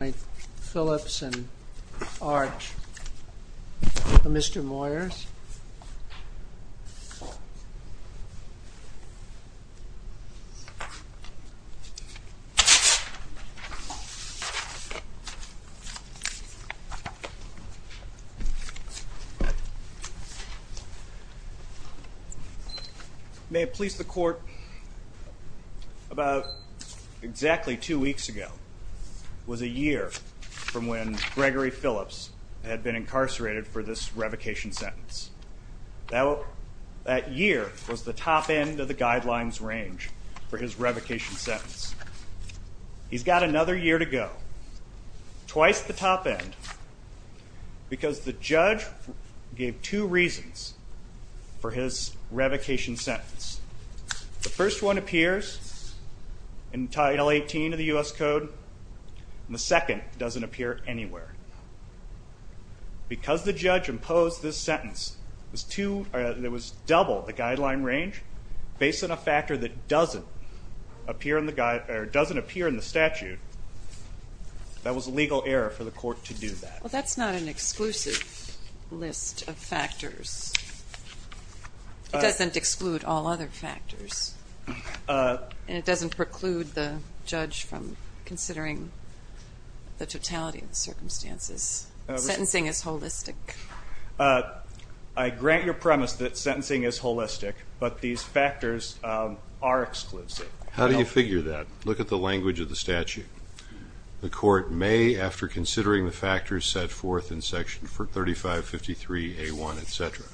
May it please the Court, about exactly two weeks ago was a year from when Gregory Phillips had been incarcerated for this revocation sentence. Now that year was the top end of the guidelines range for his revocation sentence. He's got another year to go twice the top end because the judge gave two reasons for his revocation sentence. The first one appears in Title 18 of the U.S. Code. The second doesn't appear anywhere. Because the judge imposed this sentence, there was double the guideline range based on a factor that doesn't appear in the statute, that was a legal error for the Court to do that. Well that's not an exclusive list of factors. It doesn't exclude all other factors. It doesn't preclude the judge from considering the totality of the circumstances. Sentencing is holistic. I grant your premise that sentencing is holistic, but these factors are exclusive. How do you figure that? Look at the language of the statute. The Court may after considering the factors set forth in Section 3553 A1 etc.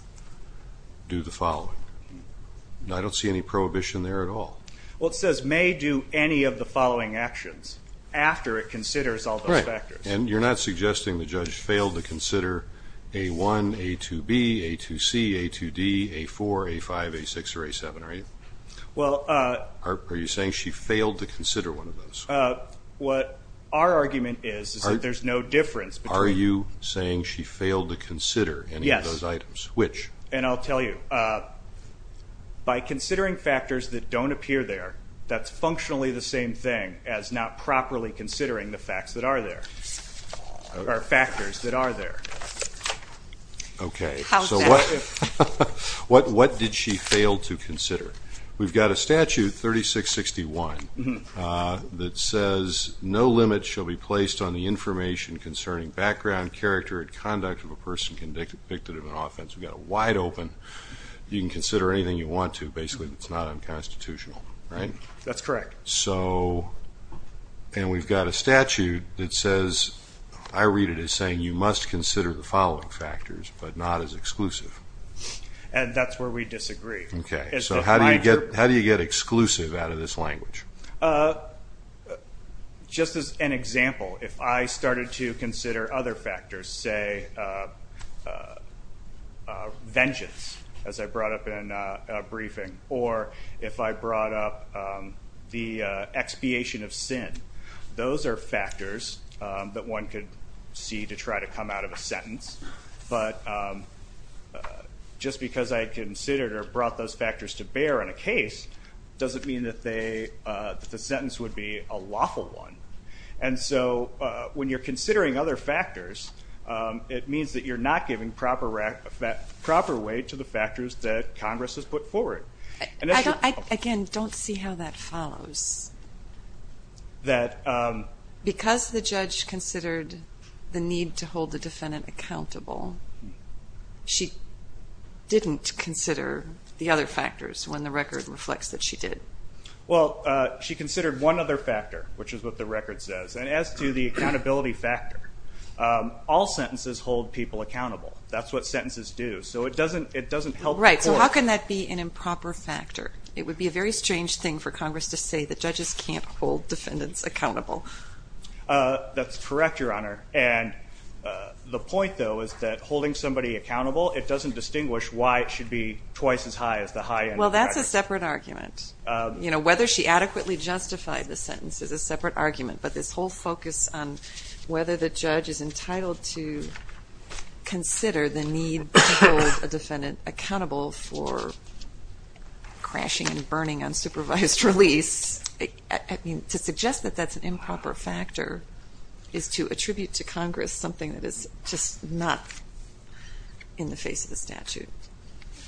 do the I don't see any prohibition there at all. Well it says may do any of the following actions after it considers all those factors. And you're not suggesting the judge failed to consider A1, A2B, A2C, A2D, A4, A5, A6 or A7, are you? Are you saying she failed to consider one of those? What our argument is is that there's no difference. Are you saying she failed to consider any of those items? Which? And I'll tell you, by considering factors that don't appear there, that's functionally the same thing as not properly considering the facts that are there, or factors that are there. Okay, so what did she fail to consider? We've got a statute 3661 that says no limit shall be placed on the information concerning background, character, and conduct of a person convicted of an offense. We've got a wide open, you can consider anything you want to, basically it's not unconstitutional, right? That's correct. So, and we've got a statute that says, I read it as saying you must consider the following factors but not as exclusive. And that's where we disagree. Okay, so how do you get, how do you get exclusive out of this language? Just as an example, if I brought up vengeance, as I brought up in briefing, or if I brought up the expiation of sin, those are factors that one could see to try to come out of a sentence, but just because I considered or brought those factors to bear in a case, doesn't mean that they, that the sentence would be a lawful one. And so when you're giving proper weight to the factors that Congress has put forward. Again, don't see how that follows. That because the judge considered the need to hold the defendant accountable, she didn't consider the other factors when the record reflects that she did. Well, she considered one other factor, which is what the record says. And as to the accountability factor, all sentences hold people accountable. That's what sentences do. So it doesn't, it doesn't help. Right, so how can that be an improper factor? It would be a very strange thing for Congress to say that judges can't hold defendants accountable. That's correct, Your Honor. And the point, though, is that holding somebody accountable, it doesn't distinguish why it should be twice as high as the high end. Well, that's a separate argument. You know, whether she adequately justified the sentence is a separate argument. But this whole focus on whether the judge is consider the need to hold a defendant accountable for crashing and burning unsupervised release, I mean, to suggest that that's an improper factor is to attribute to Congress something that is just not in the face of the statute.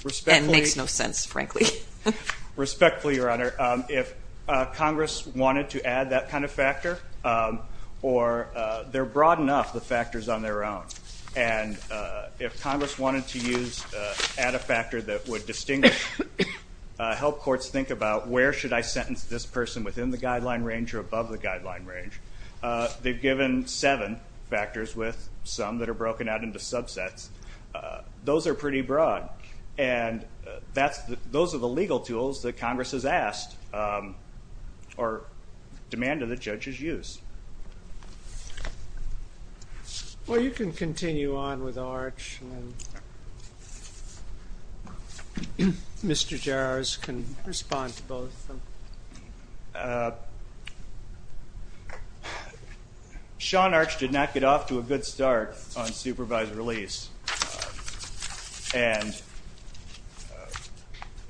Respectfully. And makes no sense, frankly. Respectfully, Your Honor. If Congress wanted to add that kind of factor, or they're broad enough, the factors on their own. And if Congress wanted to use add a factor that would distinguish, help courts think about where should I sentence this person within the guideline range or above the guideline range. They've given seven factors with some that are broken out into subsets. Those are pretty broad. And that's the, those are the legal tools that Congress has passed or demanded that judges use. Well, you can continue on with Arch. Mr. Jarosz can respond to both. Sean Arch did not get off to a good start on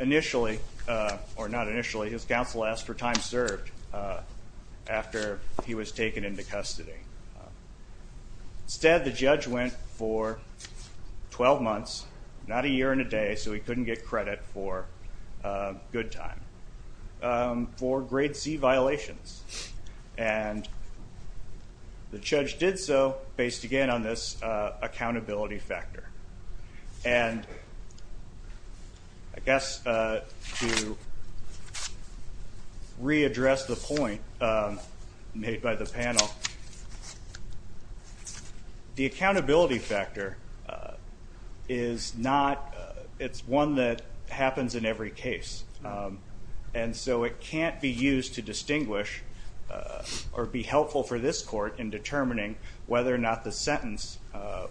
initially. His counsel asked for time served after he was taken into custody. Instead, the judge went for 12 months, not a year and a day, so he couldn't get credit for good time. For grade C violations. And the judge did so based again on this accountability factor. And I guess to readdress the point made by the panel, the accountability factor is not, it's one that happens in every case. And so it can't be used to distinguish or be helpful for this court in sentence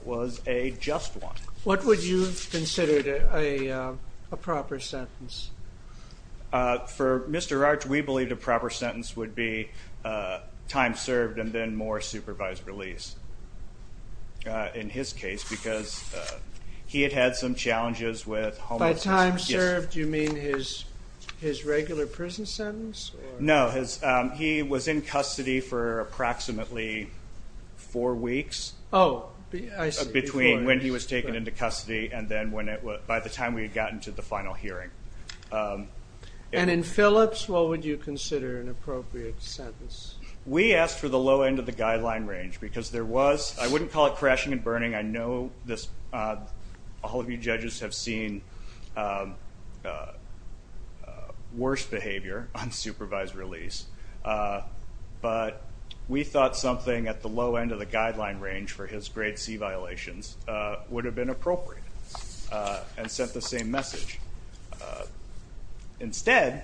was a just one. What would you consider a proper sentence? For Mr. Arch, we believe the proper sentence would be time served and then more supervised release. In his case, because he had had some challenges with... By time served, you mean his regular prison sentence? No, he was in custody for approximately four weeks. Oh, I see. Between when he was taken into custody and then by the time we had gotten to the final hearing. And in Phillips, what would you consider an appropriate sentence? We asked for the low end of the guideline range because there was, I wouldn't call it crashing and burning, I know all of you judges have seen worse behavior on supervised release, but we thought something at the low end of the guideline range for his grade C violations would have been appropriate and sent the same message. Instead,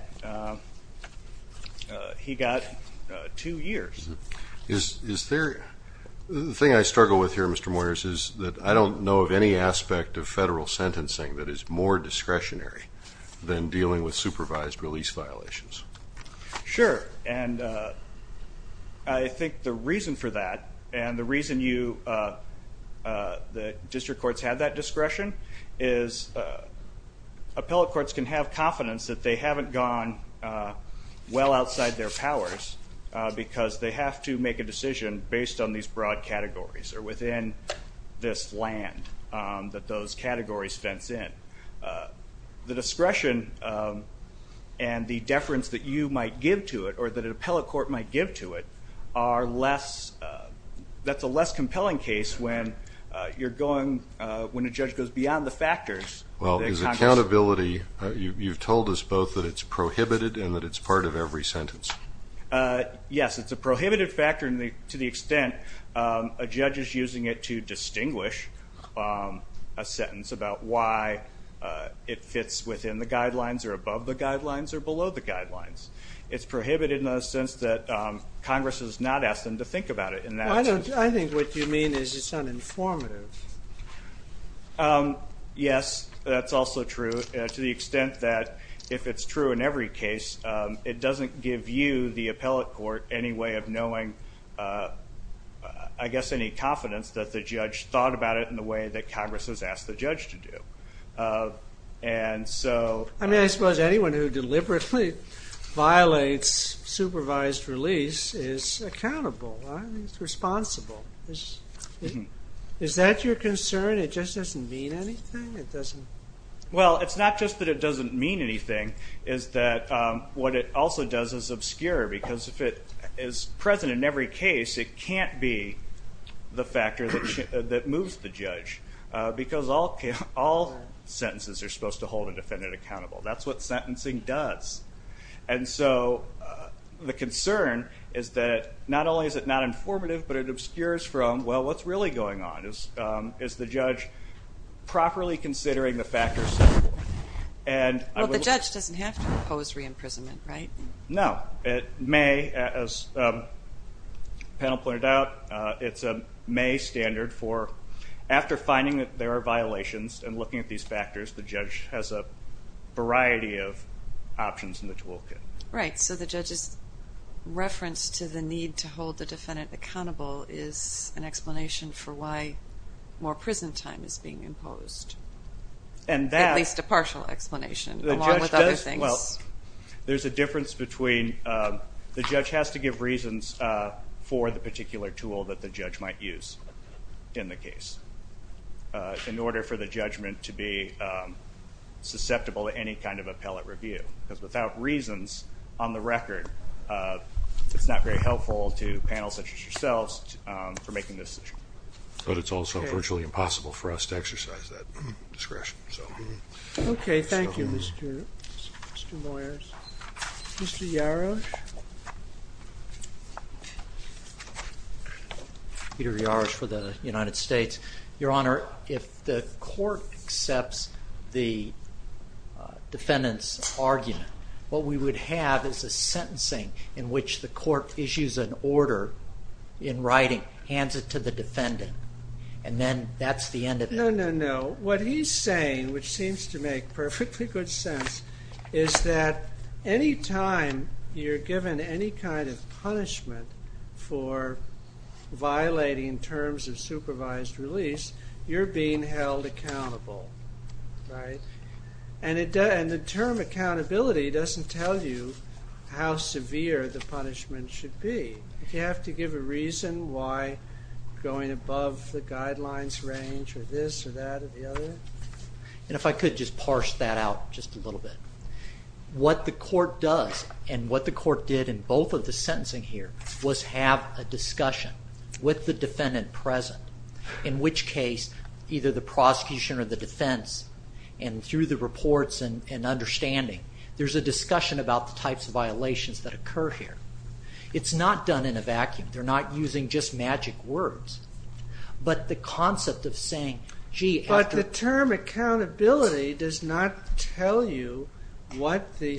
he got two years. Is there, the thing I struggle with here, Mr. Moyers, is that I don't know of any aspect of federal sentencing that is more discretionary than dealing with a defendant. And the reason you, the district courts, have that discretion is appellate courts can have confidence that they haven't gone well outside their powers because they have to make a decision based on these broad categories or within this land that those categories fence in. The discretion and the deference that you might give to it or that an appellate court might give to it are less, that's a less compelling case when you're going, when a judge goes beyond the factors. Well, is accountability, you've told us both that it's prohibited and that it's part of every sentence. Yes, it's a prohibited factor in the, to the extent a judge is using it to distinguish a sentence about why it fits within the guidelines or above the guidelines or below the guidelines. Congress has not asked them to think about it in that. I don't, I think what you mean is it's uninformative. Yes, that's also true to the extent that if it's true in every case, it doesn't give you, the appellate court, any way of knowing, I guess, any confidence that the judge thought about it in the way that Congress has asked the judge to do. And so. I mean, I suppose anyone who deliberately violates supervised release is accountable. It's responsible. Is that your concern? It just doesn't mean anything? It doesn't. Well, it's not just that it doesn't mean anything, is that what it also does is obscure, because if it is present in every case, it can't be the factor that moves the judge, because all sentences are supposed to hold a defendant accountable. That's what the concern is, that not only is it not informative, but it obscures from, well, what's really going on? Is the judge properly considering the factors? Well, the judge doesn't have to impose re-imprisonment, right? No. It may, as the panel pointed out, it's a may standard for after finding that there are violations and looking at these factors, the judge has a variety of options in the toolkit. Right. So the judge's reference to the need to hold the defendant accountable is an explanation for why more prison time is being imposed. At least a partial explanation, along with other things. Well, there's a difference between, the judge has to give reasons for the particular tool that the judge might use in the case, in order for the judgment to be susceptible to any kind of appellate review. Because without reasons, on the record, it's not very helpful to panels such as yourselves, for making this decision. But it's also virtually impossible for us to exercise that discretion, so. Okay, thank you, Mr. Moyers. Mr. Yarosh? Peter Yarosh for the United States. Your Honor, if the court accepts the defendant's argument, what we would have is a sentencing in which the court issues an order in writing, hands it to the defendant, and then that's the end of it. No, no, no. What he's saying, which seems to make perfectly good sense, is that any time you're given any kind of punishment for violating terms of supervised release, you're being held accountable, right? And the term accountability doesn't tell you how severe the punishment should be. If you have to give a reason why going above the guidelines range, or this or that or the other. And if I could just parse that out just a little bit. What the court does, and what the court did in both of the sentencing here, was have a discussion with the defendant present. In which case, either the prosecution or the defense, and through the reports and understanding, there's a discussion about the types of violations that occur here. It's not done in a vacuum. They're not using just magic words. But the concept of saying, gee... But the term accountability does not tell you what the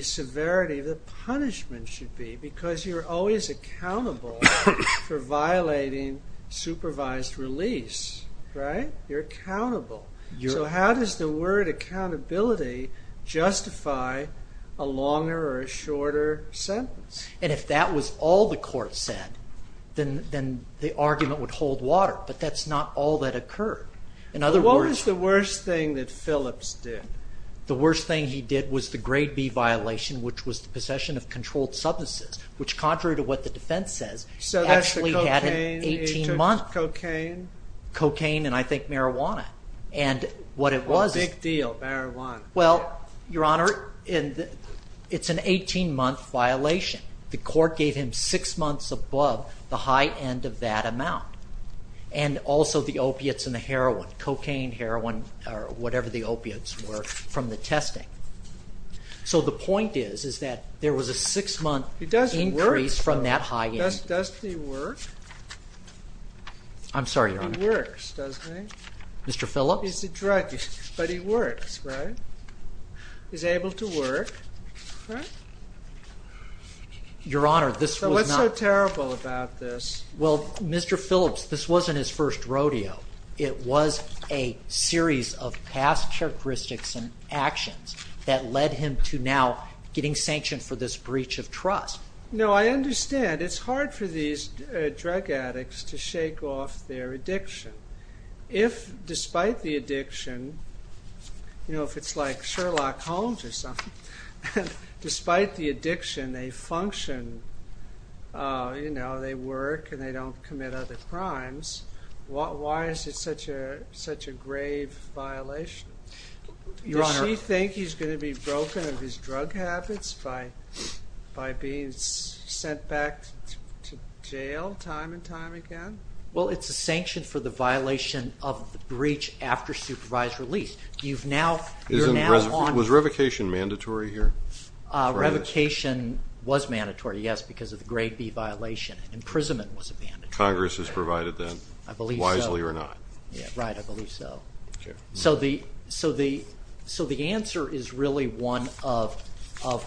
for violating supervised release, right? You're accountable. So how does the word accountability justify a longer or a shorter sentence? And if that was all the court said, then the argument would hold water. But that's not all that occurred. What was the worst thing that Phillips did? The worst thing he did was the grade B violation, which was the possession of controlled substances. Which, contrary to what the defense says, actually had an 18 month... So that's the cocaine? Cocaine and I think marijuana. And what it was... A big deal, marijuana. Well, Your Honor, it's an 18 month violation. The court gave him 6 months above the high end of that amount. And also the opiates and the heroin. Cocaine, heroin, or whatever the opiates were from the testing. So the point is, is that there was a 6 month increase from that high end. He doesn't work though. Doesn't he work? I'm sorry, Your Honor. He works, doesn't he? Mr. Phillips? He's a drug user, but he works, right? He's able to work, right? Your Honor, this was not... So what's so terrible about this? Well, Mr. Phillips, this wasn't his first rodeo. It was a series of past characteristics and actions that led him to now getting sanctioned for this breach of trust. No, I understand. It's hard for these drug addicts to shake off their addiction. If, despite the addiction, you know, if it's like Sherlock Holmes or something, if despite the addiction they function, you know, they work and they don't commit other crimes, why is it such a grave violation? Does he think he's going to be broken of his drug habits by being sent back to jail time and time again? Well, it's a sanction for the violation of the breach after supervised release. Was revocation mandatory here? Revocation was mandatory, yes, because of the grade B violation. Imprisonment was a mandate. Congress has provided that, wisely or not. Right, I believe so. So the answer is really one of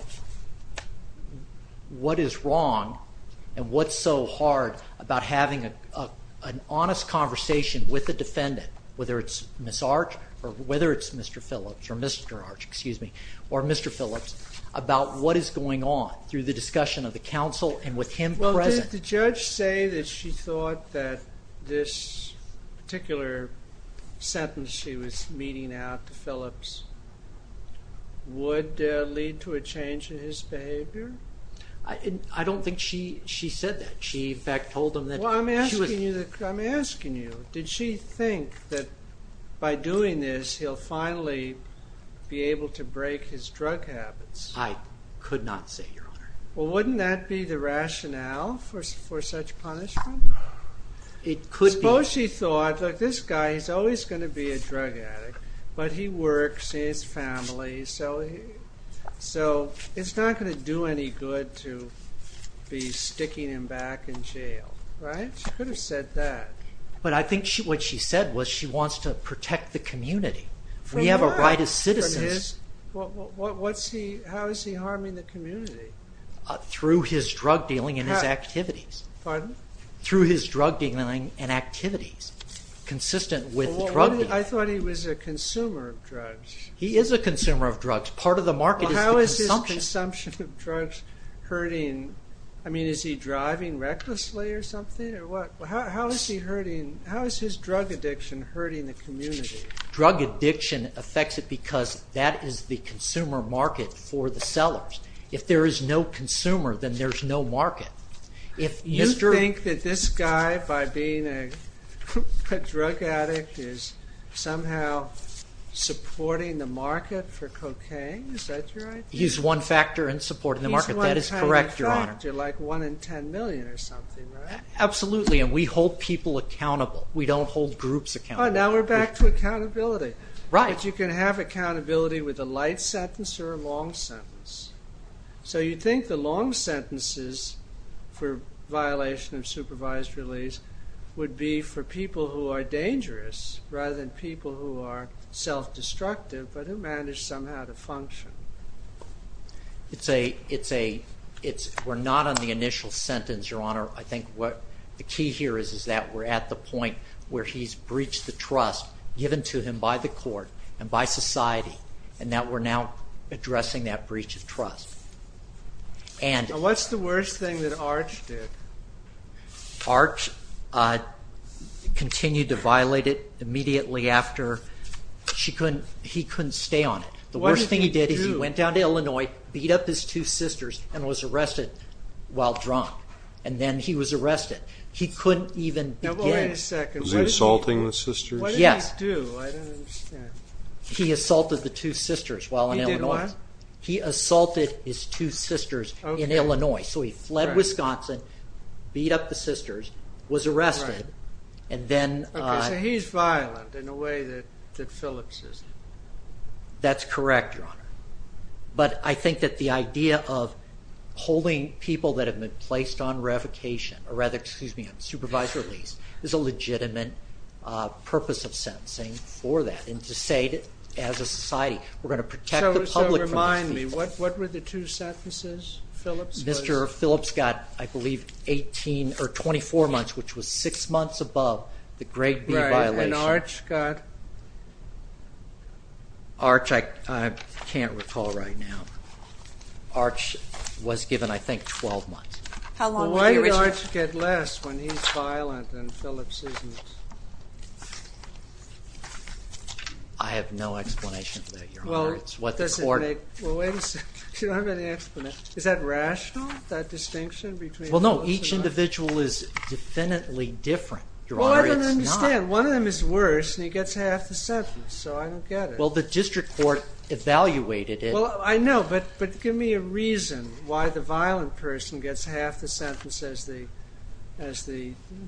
what is wrong and what's so hard about having an honest conversation with the defendant, whether it's Ms. Arch or whether it's Mr. Phillips or Mr. Arch, excuse me, or Mr. Phillips, about what is going on through the discussion of the counsel and with him present. Well, did the judge say that she thought that this particular sentence she was meeting out to Phillips would lead to a change in his behavior? I don't think she said that. She, in fact, told him that she was... I'm asking you, did she think that by doing this he'll finally be able to break his drug habits? I could not say, Your Honor. Well, wouldn't that be the rationale for such punishment? It could be. Suppose she thought, look, this guy, he's always going to be a drug addict, but he works, he has family, so it's not going to do any good to be sticking him back in jail, right? She could have said that. But I think what she said was she wants to protect the community. We have a right as citizens... How is he harming the community? Through his drug dealing and his activities. Pardon? Through his drug dealing and activities, consistent with drug dealing. I thought he was a consumer of drugs. He is a consumer of drugs. Part of the market is the consumption. The consumption of drugs hurting... I mean, is he driving recklessly or something? How is his drug addiction hurting the community? Drug addiction affects it because that is the consumer market for the sellers. If there is no consumer, then there's no market. You think that this guy, by being a drug addict, is somehow supporting the market for cocaine? Is that your idea? He's one factor in supporting the market. That is correct, Your Honor. He's one tiny factor, like 1 in 10 million or something, right? Absolutely, and we hold people accountable. We don't hold groups accountable. Now we're back to accountability. Right. But you can have accountability with a light sentence or a long sentence. So you'd think the long sentences for violation of supervised release would be for people who are dangerous rather than people who are self-destructive but who manage somehow to function. We're not on the initial sentence, Your Honor. I think the key here is that we're at the point where he's breached the trust given to him by the court and by society and that we're now addressing that breach of trust. What's the worst thing that Arch did? Arch continued to violate it immediately after. He couldn't stay on it. The worst thing he did is he went down to Illinois, beat up his two sisters, and was arrested while drunk, and then he was arrested. He couldn't even begin. Was he assaulting the sisters? Yes. What did he do? I don't understand. He assaulted the two sisters while in Illinois. He did what? He assaulted his two sisters in Illinois. So he fled Wisconsin, beat up the sisters, was arrested, and then— Okay, so he's violent in a way that Phillips isn't. That's correct, Your Honor. But I think that the idea of holding people that have been placed on revocation, or rather, excuse me, on supervised release, is a legitimate purpose of sentencing for that and to say as a society, we're going to protect the public from these people. What were the two sentences, Phillips? Mr. Phillips got, I believe, 18 or 24 months, which was six months above the grade B violation. Right, and Arch got? Arch, I can't recall right now. Arch was given, I think, 12 months. How long did Arch get? Why did Arch get less when he's violent and Phillips isn't? I have no explanation for that, Your Honor. Well, wait a second. You don't have any explanation. Is that rational, that distinction between— Well, no, each individual is definitely different. Your Honor, it's not. Well, I don't understand. One of them is worse and he gets half the sentence, so I don't get it. Well, the district court evaluated it. Well, I know, but give me a reason why the violent person gets half the sentence as the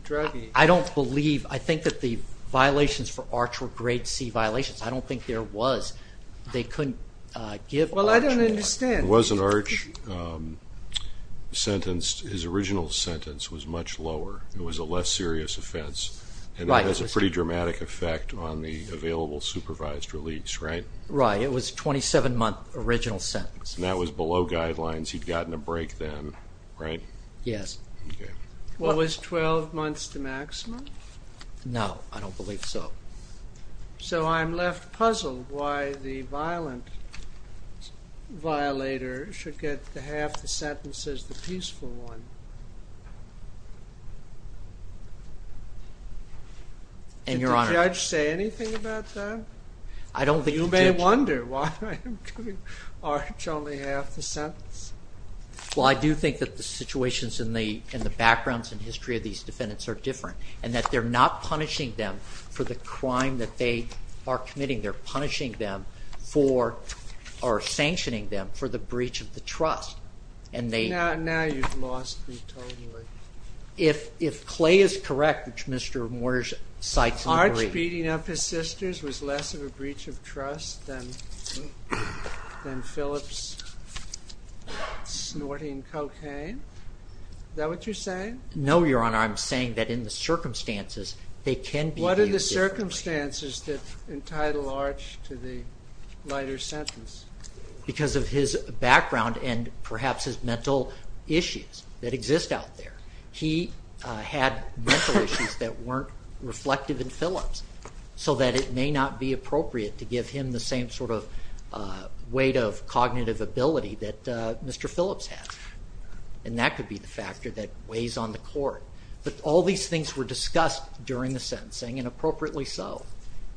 druggie. I don't believe—I think that the violations for Arch were grade C violations. I don't think there was. They couldn't give Arch more. Well, I don't understand. It was an Arch sentence. His original sentence was much lower. It was a less serious offense. Right. And that has a pretty dramatic effect on the available supervised release, right? Right. It was a 27-month original sentence. And that was below guidelines. He'd gotten a break then, right? Yes. Okay. Well, was 12 months the maximum? No, I don't believe so. So I'm left puzzled why the violent violator should get half the sentence as the peaceful one. And, Your Honor— Did the judge say anything about that? I don't think the judge— You may wonder why I'm giving Arch only half the sentence. Well, I do think that the situations in the backgrounds and history of these defendants are different and that they're not punishing them for the crime that they are committing. They're punishing them for—or sanctioning them for the breach of the trust, and they— Now you've lost me totally. If Clay is correct, which Mr. Moyers cites in the brief— Arch beating up his sisters was less of a breach of trust than Phillips snorting cocaine? Is that what you're saying? No, Your Honor. I'm saying that in the circumstances they can behave differently. What are the circumstances that entitle Arch to the lighter sentence? Because of his background and perhaps his mental issues that exist out there. He had mental issues that weren't reflective in Phillips so that it may not be appropriate to give him the same sort of weight of cognitive ability that Mr. Phillips had. And that could be the factor that weighs on the court. But all these things were discussed during the sentencing, and appropriately so.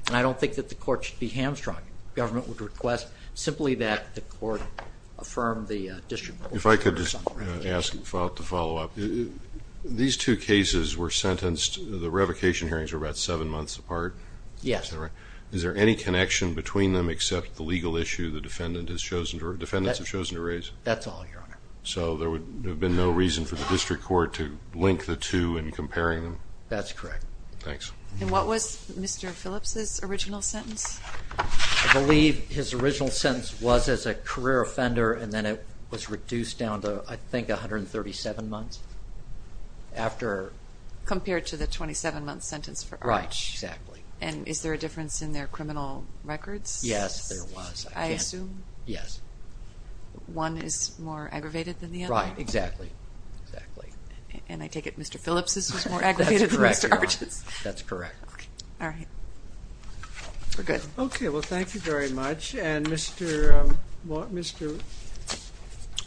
And I don't think that the court should be hamstrung. Government would request simply that the court affirm the district rule. If I could just ask to follow up. These two cases were sentenced—the revocation hearings were about seven months apart. Yes. Is that right? That's all, Your Honor. So there would have been no reason for the district court to link the two in comparing them? That's correct. Thanks. And what was Mr. Phillips' original sentence? I believe his original sentence was as a career offender, and then it was reduced down to, I think, 137 months after— Compared to the 27-month sentence for Arch. Right, exactly. And is there a difference in their criminal records? Yes, there was. I assume. Yes. One is more aggravated than the other? Right, exactly. Exactly. And I take it Mr. Phillips' was more aggravated than Mr. Arch's? That's correct, Your Honor. That's correct. All right. We're good. Okay. Well, thank you very much. And Mr.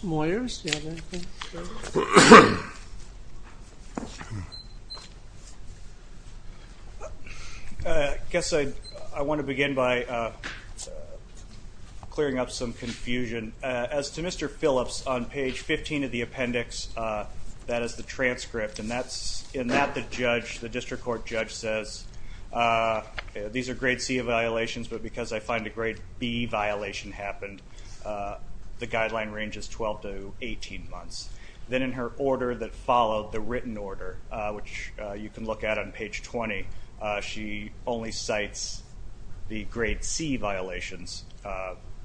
Moyers, do you have anything? I guess I want to begin by clearing up some confusion. As to Mr. Phillips, on page 15 of the appendix, that is the transcript, and in that the district court judge says, these are grade C violations, but because I find a grade B violation happened, the guideline range is 12 to 18 months. Then in her order that followed, the written order, which you can look at on page 20, she only cites the grade C violations,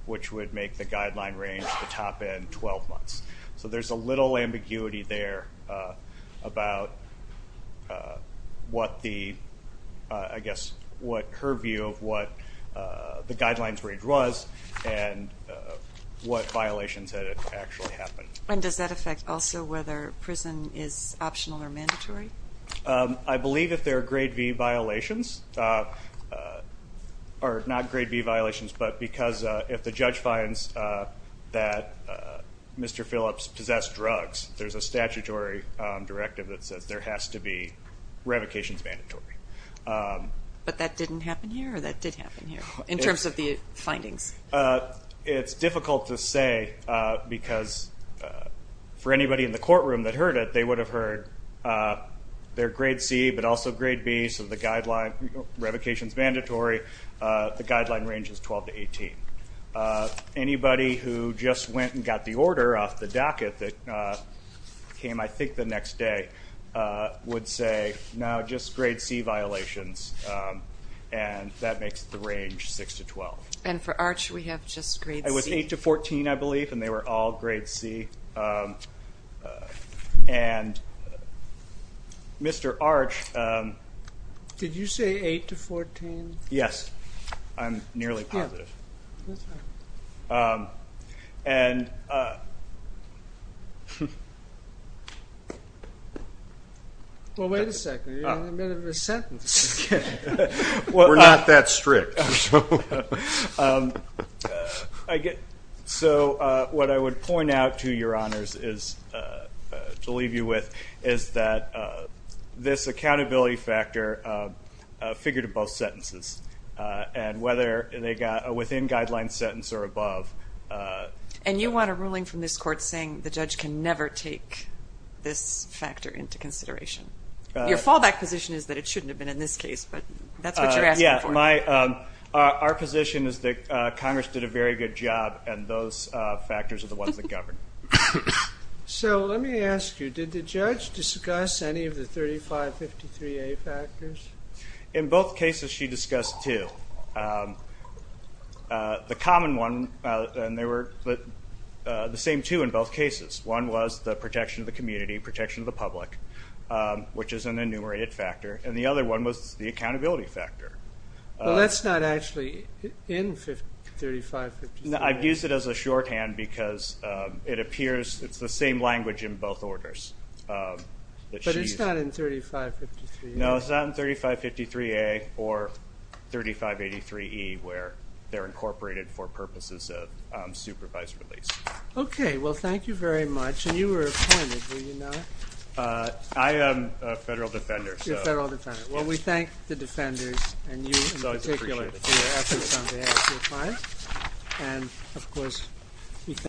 which would make the guideline range, the top end, 12 months. So there's a little ambiguity there about what the, I guess, what her view of what the guidelines range was and what violations had actually happened. And does that affect also whether prison is optional or mandatory? I believe if there are grade B violations, or not grade B violations, but because if the judge finds that Mr. Phillips possessed drugs, there's a statutory directive that says there has to be revocations mandatory. But that didn't happen here, or that did happen here, in terms of the findings? It's difficult to say because for anybody in the courtroom that heard it, they would have heard they're grade C but also grade B, so the guideline revocation is mandatory. The guideline range is 12 to 18. Anybody who just went and got the order off the docket that came, I think, the next day, would say, no, just grade C violations, and that makes the range 6 to 12. And for Arch, we have just grade C. It was 8 to 14, I believe, and they were all grade C. And Mr. Arch. Did you say 8 to 14? Yes. I'm nearly positive. And. Well, wait a second. You're in the middle of a sentence. We're not that strict. So what I would point out to your honors to leave you with is that this accountability factor figured in both sentences, and whether they got within guideline sentence or above. And you want a ruling from this court saying the judge can never take this factor into consideration. Your fallback position is that it shouldn't have been in this case, but that's what you're asking for. Yes. Our position is that Congress did a very good job, and those factors are the ones that govern. So let me ask you, did the judge discuss any of the 3553A factors? In both cases, she discussed two. The common one, and there were the same two in both cases. One was the protection of the community, protection of the public, which is an enumerated factor, and the other one was the accountability factor. Well, that's not actually in 3553A. I've used it as a shorthand because it appears it's the same language in both orders. But it's not in 3553A? No, it's not in 3553A or 3583E where they're incorporated for purposes of supervised release. Okay. Well, thank you very much. And you were appointed, were you not? I am a federal defender. You're a federal defender. Well, we thank the defenders and you in particular for your efforts on behalf of your clients. And, of course, we thank you.